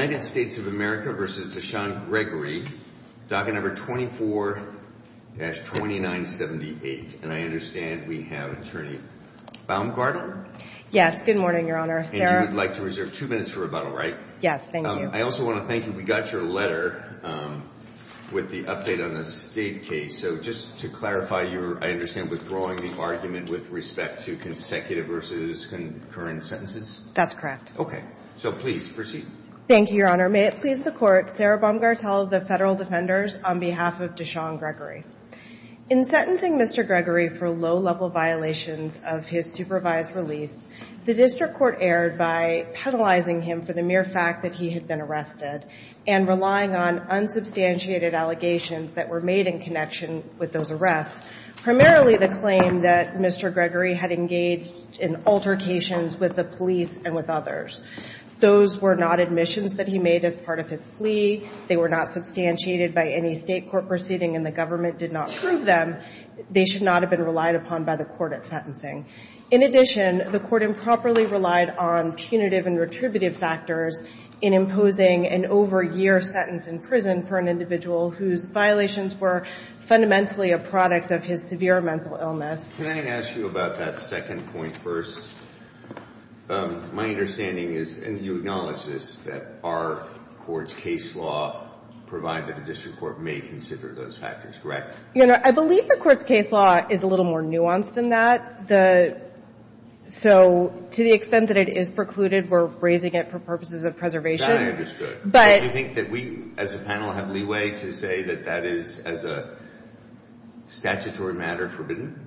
24-2978, and I understand we have Attorney Baumgartner. Yes, good morning, Your Honor. And you would like to reserve two minutes for rebuttal, right? Yes, thank you. I also want to thank you. We got your letter with the update on the state case. So just to clarify, you're, I understand, withdrawing the argument with respect to consecutive versus concurrent sentences? That's correct. Okay, so please proceed. Thank you, Your Honor. I understand that. Thank you, Your Honor. May it please the Court, Sarah Baumgartel of the Federal Defenders, on behalf of Deshaun Gregory. In sentencing Mr. Gregory for low-level violations of his supervised release, the district court erred by penalizing him for the mere fact that he had been arrested and relying on unsubstantiated allegations that were made in connection with those arrests, primarily the claim that Mr. Gregory had engaged in altercations with the police and with others. Those were not admissions that he made as part of his plea. They were not substantiated by any state court proceeding and the government did not prove them. They should not have been relied upon by the court at sentencing. In addition, the court improperly relied on punitive and retributive factors in imposing an over-year sentence in prison for an individual whose violations were fundamentally a product of his severe mental illness. Can I ask you about that question first? My understanding is, and you acknowledge this, that our court's case law, provided the district court may consider those factors, correct? You know, I believe the court's case law is a little more nuanced than that. The So to the extent that it is precluded, we're raising it for purposes of preservation. That I understood. But Do you think that we as a panel have leeway to say that that is, as a statutory matter, forbidden?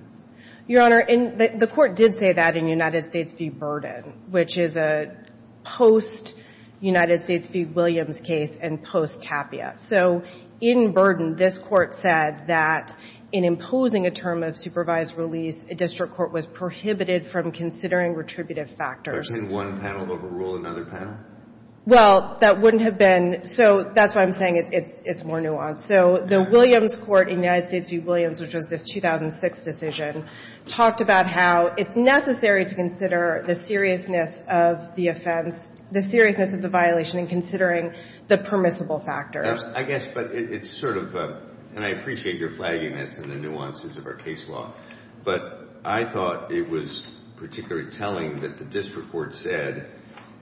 Your Honor, the court did say that in United States v. Burden, which is a post-United States v. Williams case and post-Tapia. So in Burden, this court said that in imposing a term of supervised release, a district court was prohibited from considering retributive factors. So you're saying one panel overruled another panel? Well, that wouldn't have been. So that's why I'm saying it's more nuanced. So the Williams court in United States v. Williams, which was this 2006 decision, talked about how it's necessary to consider the seriousness of the offense, the seriousness of the violation in considering the permissible factors. I guess, but it's sort of, and I appreciate your flaggingness in the nuances of our case law, but I thought it was particularly telling that the district court said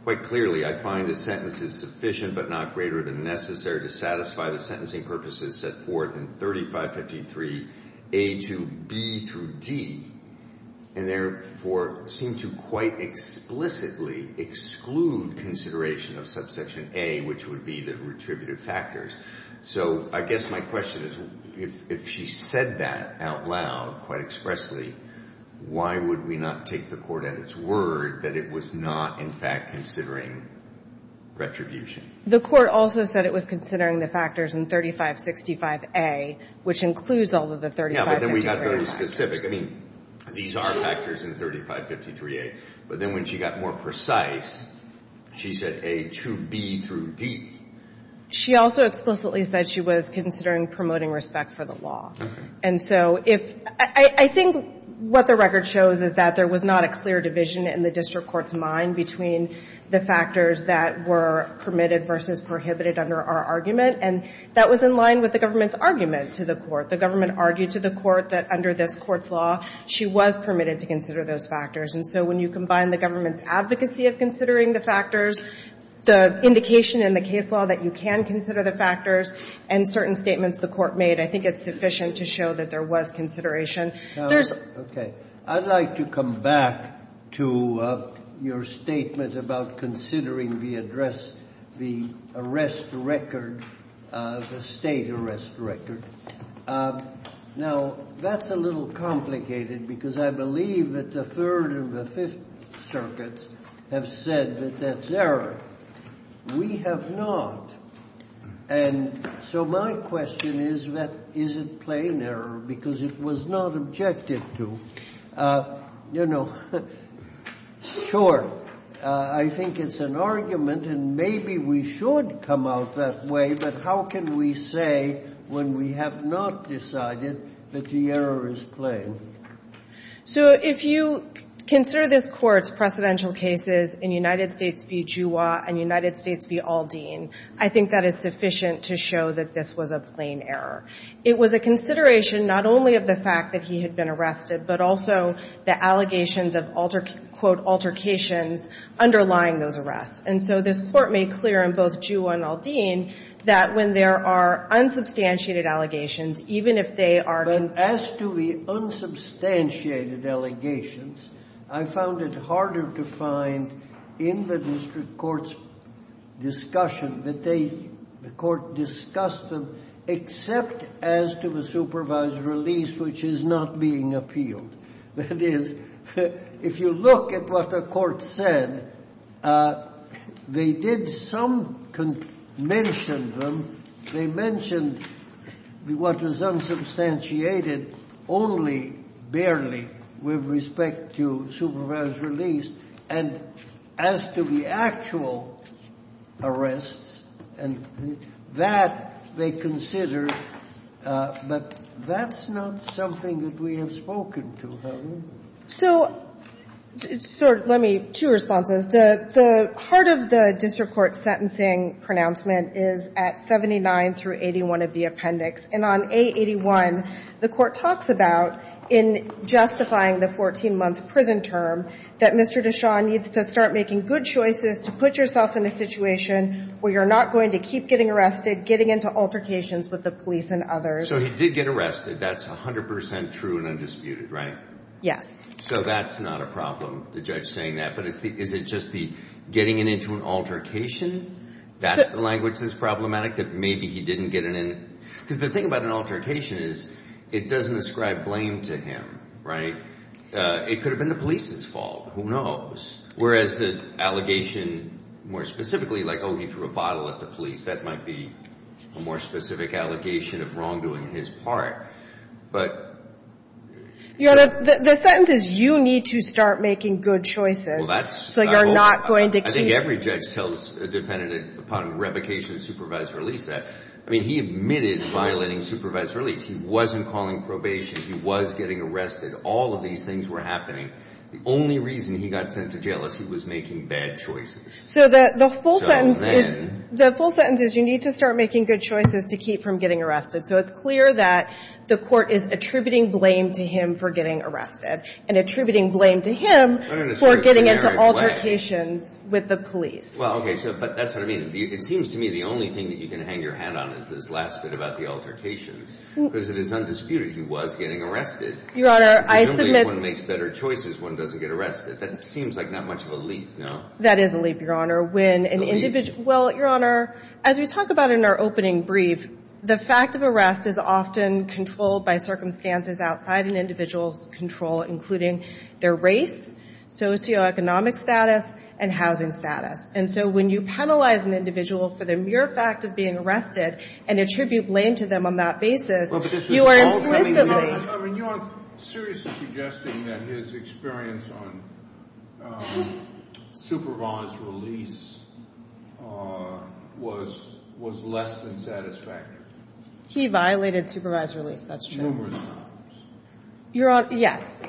quite clearly, I find this sentence is sufficient but not greater than necessary to satisfy the sentencing purposes set forth in 3553A to B through D, and therefore seem to quite explicitly exclude consideration of subsection A, which would be the retributive factors. So I guess my question is, if she said that out loud, quite expressly, why would we not take the court at its word that it was not in fact considering retribution? The court also said it was considering the factors in 3565A, which includes all of the 3553A factors. Yeah, but then we got very specific. I mean, these are factors in 3553A. But then when she got more precise, she said A to B through D. She also explicitly said she was considering promoting respect for the law. Okay. And so if, I think what the record shows is that there was not a clear division in the district court's mind between the factors that were permitted versus prohibited under our argument. And that was in line with the government's argument to the court. The government argued to the court that under this court's law, she was permitted to consider those factors. And so when you combine the government's advocacy of considering the factors, the indication in the case law that you can consider the factors, and certain statements the court made, I think it's sufficient to show that there was consideration. There's — Okay. I'd like to come back to your statement about considering the address, the arrest record, the State arrest record. Now, that's a little complicated, because I believe that the Third and the Fifth Circuits have said that that's error. We have not. And so my question is that is it plain error? Because it was not objected to. You know, sure, I think it's an argument, and maybe we should come out that way, but how can we say when we have not decided that the error is plain? So if you consider this Court's precedential cases in United States v. Juwa and United States, I think that is sufficient to show that this was a plain error. It was a consideration not only of the fact that he had been arrested, but also the allegations of, quote, altercations underlying those arrests. And so this Court made clear in both Juwa and Aldean that when there are unsubstantiated allegations, even if they are — But as to the unsubstantiated allegations, I found it harder to find in the district court's discussion that they — the court discussed them except as to the supervised release, which is not being appealed. That is, if you look at what the court said, they did some — mentioned them. They mentioned what was unsubstantiated only, barely, with respect to supervised release, and as to the actual arrests, and that they considered. But that's not something that we have spoken to, have we? So, sir, let me — two responses. The heart of the district court's sentencing pronouncement is at 79 through 81 of the appendix. And on A81, the court talks about, in justifying the 14-month prison term, that Mr. Deschamps needs to start making good choices to put yourself in a situation where you're not going to keep getting arrested, getting into altercations with the police and others. So he did get arrested. That's 100 percent true and undisputed, right? Yes. So that's not a problem, the judge saying that. But is it just the getting into an altercation, that's the language that's problematic, that maybe he didn't get in? Because the thing about an altercation is it doesn't ascribe blame to him, right? It could have been the police's fault. Who knows? Whereas the allegation, more specifically, like, oh, he threw a bottle at the police, that might be a more specific allegation of wrongdoing on his part. But — The sentence is you need to start making good choices. Well, that's — So you're not going to keep — I mean, he admitted violating supervisory release. He wasn't calling probation. He was getting arrested. All of these things were happening. The only reason he got sent to jail is he was making bad choices. So the full sentence is — So then — The full sentence is you need to start making good choices to keep from getting arrested. So it's clear that the court is attributing blame to him for getting arrested and attributing blame to him for getting into altercations with the police. Well, okay. But that's what I mean. It seems to me the only thing that you can hang your hat on is this last bit about the altercations, because it is undisputed he was getting arrested. Your Honor, I submit — If only one makes better choices, one doesn't get arrested. That seems like not much of a leap, no? That is a leap, Your Honor. When an individual — Well, Your Honor, as we talk about in our opening brief, the fact of arrest is often controlled by circumstances outside an individual's control, including their race, socioeconomic status, and housing status. And so when you penalize an individual for the mere fact of being arrested and attribute blame to them on that basis, you are implicitly — Well, but this is all coming — I mean, you aren't seriously suggesting that his experience on supervised release was less than satisfactory? He violated supervised release. That's true. Numerous times. Your Honor, yes.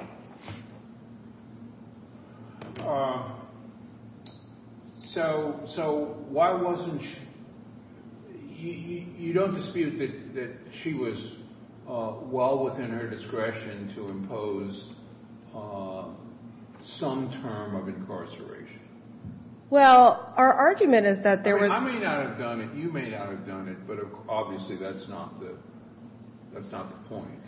So why wasn't — you don't dispute that she was well within her discretion to impose some term of incarceration? Well, our argument is that there was — I may not have done it. You may not have done it, but obviously that's not the point.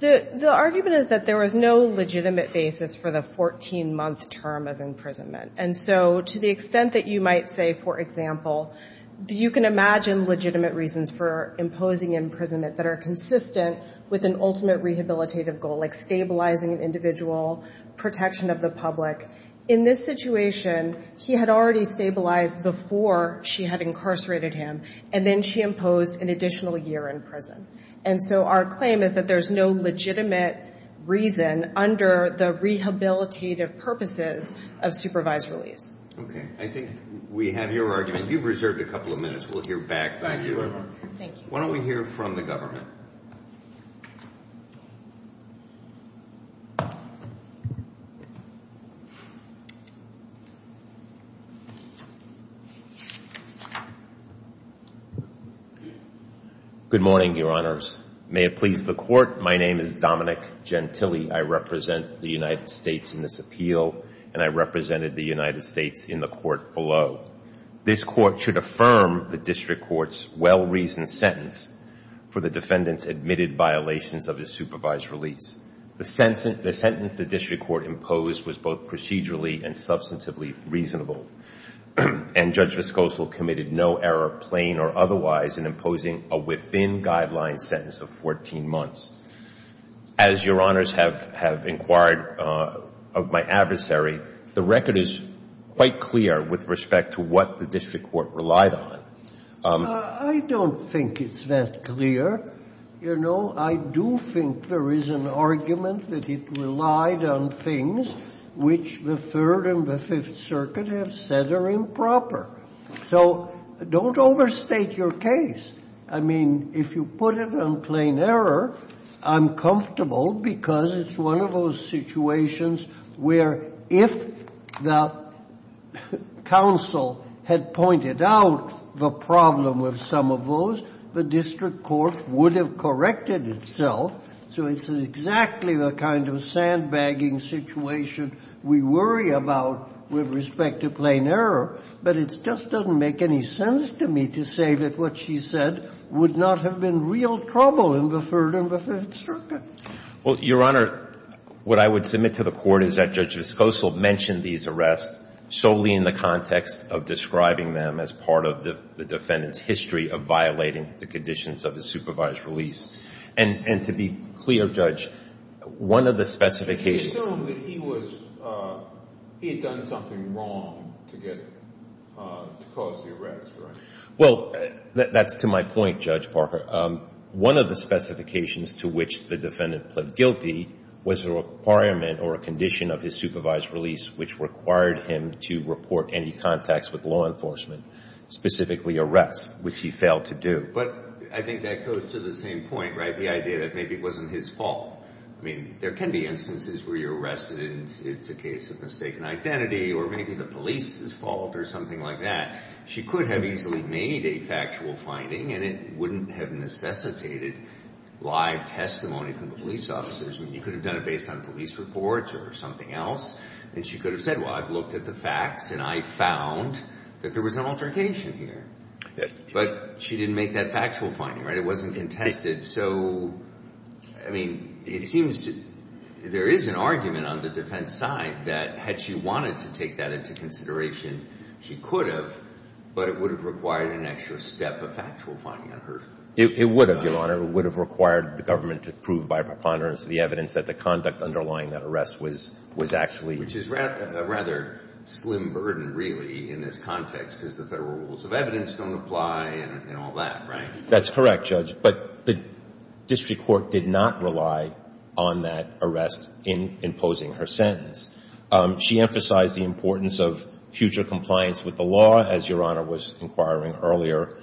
The argument is that there was no legitimate basis for the 14-month term of imprisonment. And so to the extent that you might say, for example, you can imagine legitimate reasons for imposing imprisonment that are consistent with an ultimate rehabilitative goal, like stabilizing an individual, protection of the public. In this situation, he had already stabilized before she had incarcerated him, and then she imposed an additional year in prison. And so our claim is that there's no legitimate reason under the rehabilitative purposes of supervised release. Okay. I think we have your argument. You've reserved a couple of minutes. We'll hear back from you. Thank you. Why don't we hear from the government? Good morning, Your Honors. May it please the Court, my name is Dominic Gentile. I represent the United States in this appeal, and I represented the United States in the court below. This Court should affirm the district court's well-reasoned sentence for the defendant's admitted violations of his supervised release. The sentence the district court imposed was both procedurally and substantively reasonable. And Judge Viscoso committed no error, plain or otherwise, in imposing a within-guideline sentence of 14 months. As Your Honors have inquired of my adversary, the record is quite clear with respect to what the district court relied on. I don't think it's that clear. You know, I do think there is an argument that it relied on things which the Third and the Fifth Circuit have said are improper. So don't overstate your case. I mean, if you put it on plain error, I'm comfortable because it's one of those situations where if the counsel had pointed out the problem with some of those, the district court would have corrected itself. So it's exactly the kind of sandbagging situation we worry about with respect to plain error. But it just doesn't make any sense to me to say that what she said would not have been real trouble in the Third and the Fifth Circuit. Well, Your Honor, what I would submit to the Court is that Judge Viscoso mentioned these arrests solely in the context of describing them as part of the defendant's history of violating the conditions of his supervised release. And to be clear, Judge, one of the specifications of this case is that the defendant he had done something wrong to cause the arrest, right? Well, that's to my point, Judge Parker. One of the specifications to which the defendant pled guilty was a requirement or a condition of his supervised release which required him to report any contacts with law enforcement, specifically arrests, which he failed to do. But I think that goes to the same point, right, the idea that maybe it wasn't his fault. I mean, there can be instances where you're arrested and it's a case of mistaken identity or maybe the police's fault or something like that. She could have easily made a factual finding and it wouldn't have necessitated live testimony from the police officers. I mean, you could have done it based on police reports or something else. And she could have said, well, I've looked at the facts and I found that there was an altercation here. But she didn't make that factual finding, right? It wasn't contested. And so, I mean, it seems there is an argument on the defense side that had she wanted to take that into consideration, she could have, but it would have required an extra step of factual finding on her. It would have, Your Honor. It would have required the government to prove by preponderance the evidence that the conduct underlying that arrest was actually Which is a rather slim burden, really, in this context because the Federal Rules of Evidence don't apply and all that, right? That's correct, Judge. But the district court did not rely on that arrest in imposing her sentence. She emphasized the importance of future compliance with the law, as Your Honor was inquiring earlier.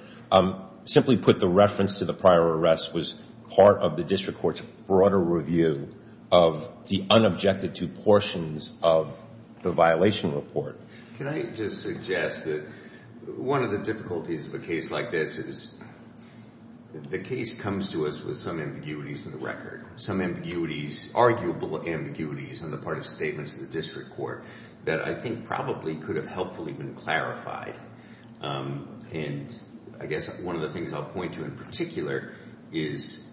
Simply put, the reference to the prior arrest was part of the district court's broader review of the unobjected to portions of the violation report. Can I just suggest that one of the difficulties of a case like this is the case comes to us with some ambiguities in the record, some ambiguities, arguable ambiguities on the part of statements of the district court that I think probably could have helpfully been clarified. And I guess one of the things I'll point to in particular is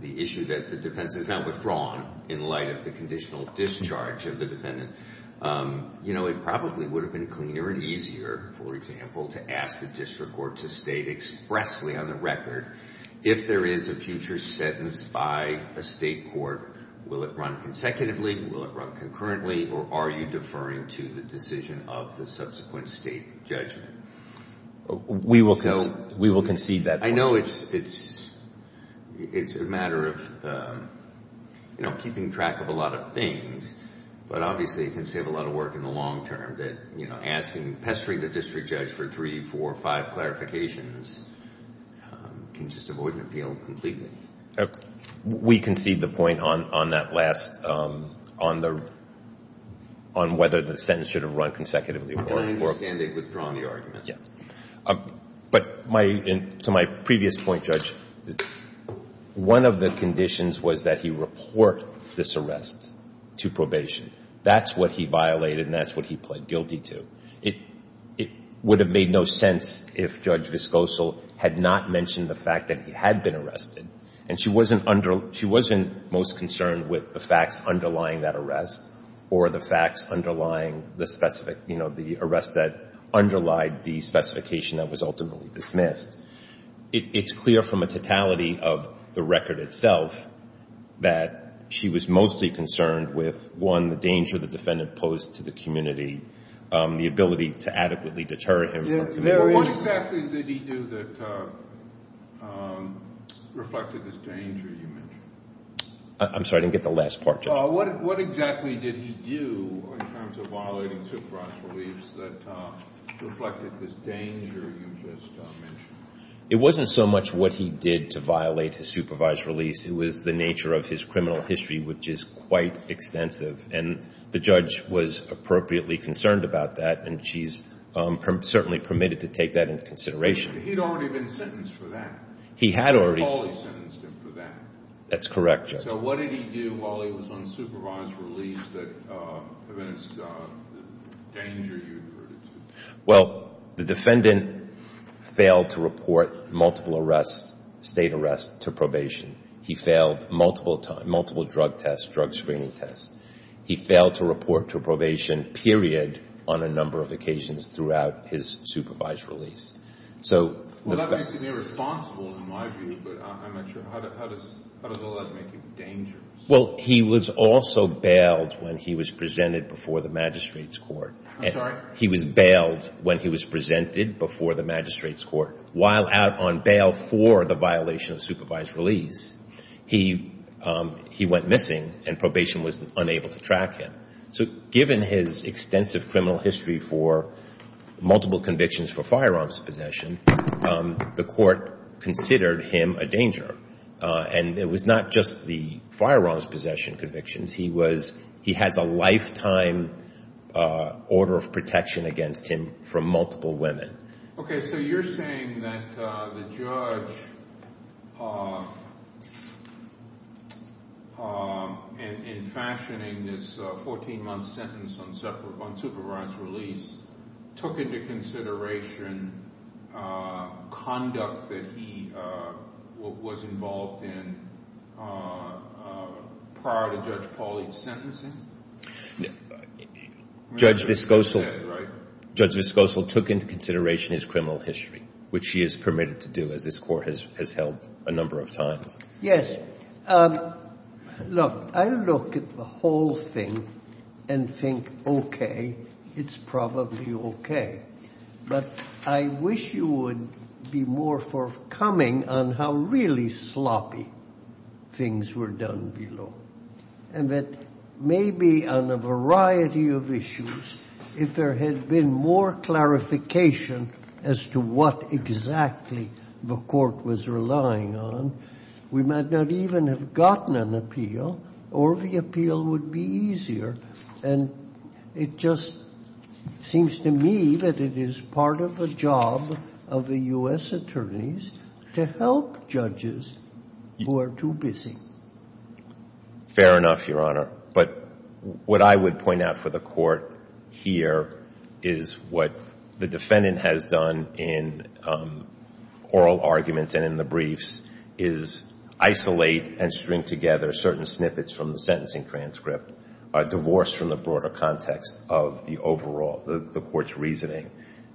the issue that the defense is now withdrawn in light of the conditional discharge of the defendant. You know, it probably would have been cleaner and easier, for example, to ask the district court to state expressly on the record, if there is a future sentence by a state court, will it run consecutively, will it run concurrently, or are you deferring to the decision of the subsequent state judgment? We will concede that point. I know it's a matter of, you know, keeping track of a lot of things, but obviously it can save a lot of work in the long term that, you know, asking, pestering the district judge for three, four, five clarifications can just avoid an appeal completely. We concede the point on that last, on whether the sentence should have run consecutively. And I understand they've withdrawn the argument. But to my previous point, Judge, one of the conditions was that he report this arrest to probation. That's what he violated and that's what he pled guilty to. It would have made no sense if Judge Viscosal had not mentioned the fact that he had been arrested and she wasn't most concerned with the facts underlying that arrest or the facts underlying the specific, you know, the arrest that underlied the specification that was ultimately dismissed. It's clear from a totality of the record itself that she was mostly concerned with, one, the danger the defendant posed to the community, the ability to adequately deter him. What exactly did he do that reflected this danger you mentioned? I'm sorry, I didn't get the last part, Judge. What exactly did he do in terms of violating supervised release that reflected this danger you just mentioned? It wasn't so much what he did to violate his supervised release. It was the nature of his criminal history, which is quite extensive. And the judge was appropriately concerned about that, and she's certainly permitted to take that into consideration. He'd already been sentenced for that. He had already. Judge Pauly sentenced him for that. That's correct, Judge. So what did he do while he was on supervised release that evidenced the danger you referred it to? Well, the defendant failed to report multiple arrests, state arrests, to probation. He failed multiple drug tests, drug screening tests. He failed to report to probation, period, on a number of occasions throughout his supervised release. Well, that makes him irresponsible in my view, but I'm not sure. How does all that make him dangerous? Well, he was also bailed when he was presented before the magistrate's court. I'm sorry? He was bailed when he was presented before the magistrate's court. While out on bail for the violation of supervised release, he went missing, and probation was unable to track him. So given his extensive criminal history for multiple convictions for firearms possession, the court considered him a danger. And it was not just the firearms possession convictions. He has a lifetime order of protection against him from multiple women. Okay, so you're saying that the judge, in fashioning this 14-month sentence on supervised release, took into consideration conduct that he was involved in prior to Judge Pauly's sentencing? Judge Viscoso took into consideration his criminal history, which he is permitted to do, as this court has held a number of times. Yes. Look, I look at the whole thing and think, okay, it's probably okay. But I wish you would be more forthcoming on how really sloppy things were done below, and that maybe on a variety of issues, if there had been more clarification as to what exactly the court was relying on, we might not even have gotten an appeal, or the appeal would be easier. And it just seems to me that it is part of the job of the U.S. attorneys to help judges who are too busy. Fair enough, Your Honor. But what I would point out for the Court here is what the defendant has done in oral arguments and in the briefs, is isolate and string together certain snippets from the sentencing transcript, divorced from the broader context of the overall, the Court's reasoning.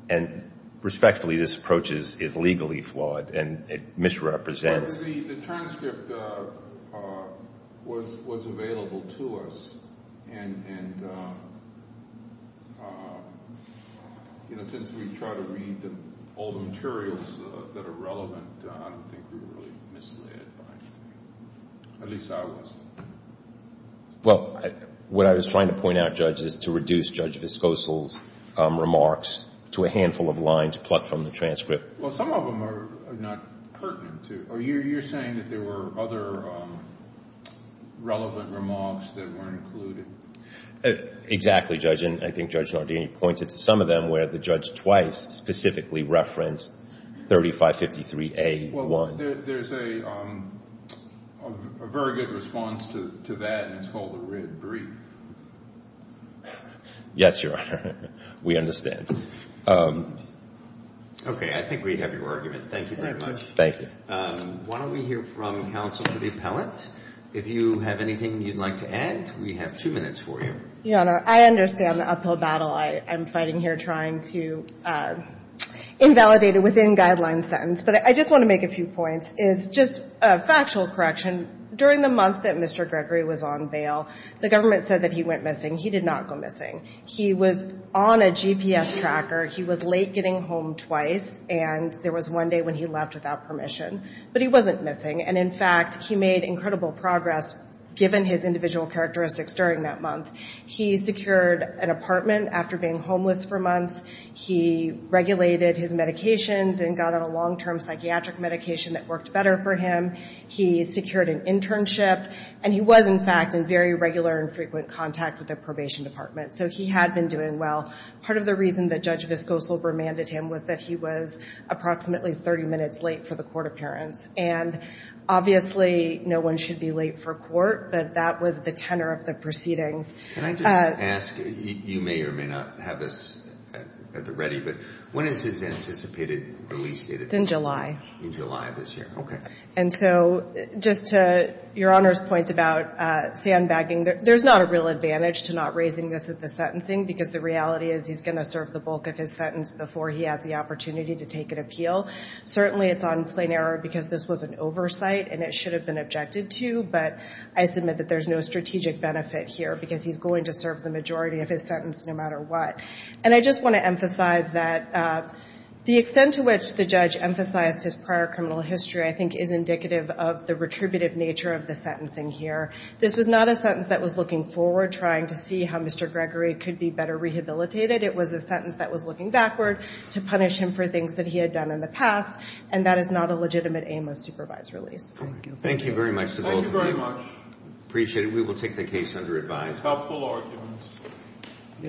And respectfully, this approach is legally flawed, and it misrepresents. Well, the transcript was available to us. And, you know, since we try to read all the materials that are relevant, I don't think we were really misled by anything. At least I wasn't. Well, what I was trying to point out, Judge, is to reduce Judge Viscoso's remarks to a handful of lines plucked from the transcript. Well, some of them are not pertinent. You're saying that there were other relevant remarks that weren't included? Exactly, Judge. And I think Judge Nardini pointed to some of them where the judge twice specifically referenced 3553A1. Well, there's a very good response to that, and it's called a writ brief. Yes, Your Honor. We understand. Okay. I think we have your argument. Thank you very much. Thank you. Why don't we hear from counsel to the appellant. If you have anything you'd like to add, we have two minutes for you. Your Honor, I understand the uphill battle I'm fighting here trying to invalidate a within-guidelines sentence. But I just want to make a few points, is just a factual correction. During the month that Mr. Gregory was on bail, the government said that he went missing. He did not go missing. He was on a GPS tracker. He was late getting home twice, and there was one day when he left without permission. But he wasn't missing. And, in fact, he made incredible progress given his individual characteristics during that month. He secured an apartment after being homeless for months. He regulated his medications and got on a long-term psychiatric medication that worked better for him. He secured an internship. And he was, in fact, in very regular and frequent contact with the probation department. So he had been doing well. Part of the reason that Judge Viscoso remanded him was that he was approximately 30 minutes late for the court appearance. And, obviously, no one should be late for court, but that was the tenor of the proceedings. Can I just ask, you may or may not have this at the ready, but when is his anticipated release date? It's in July. In July of this year. Okay. And so just to Your Honor's point about sandbagging, there's not a real advantage to not raising this at the sentencing because the reality is he's going to serve the bulk of his sentence before he has the opportunity to take an appeal. Certainly it's on plain error because this was an oversight and it should have been objected to, but I submit that there's no strategic benefit here because he's going to serve the majority of his sentence no matter what. And I just want to emphasize that the extent to which the judge emphasized his prior criminal history, I think, is indicative of the retributive nature of the sentencing here. This was not a sentence that was looking forward, trying to see how Mr. Gregory could be better rehabilitated. It was a sentence that was looking backward to punish him for things that he had done in the past, and that is not a legitimate aim of supervised release. Thank you. Thank you very much to both of you. Thank you very much. Appreciate it. We will take the case under advice. Helpful arguments.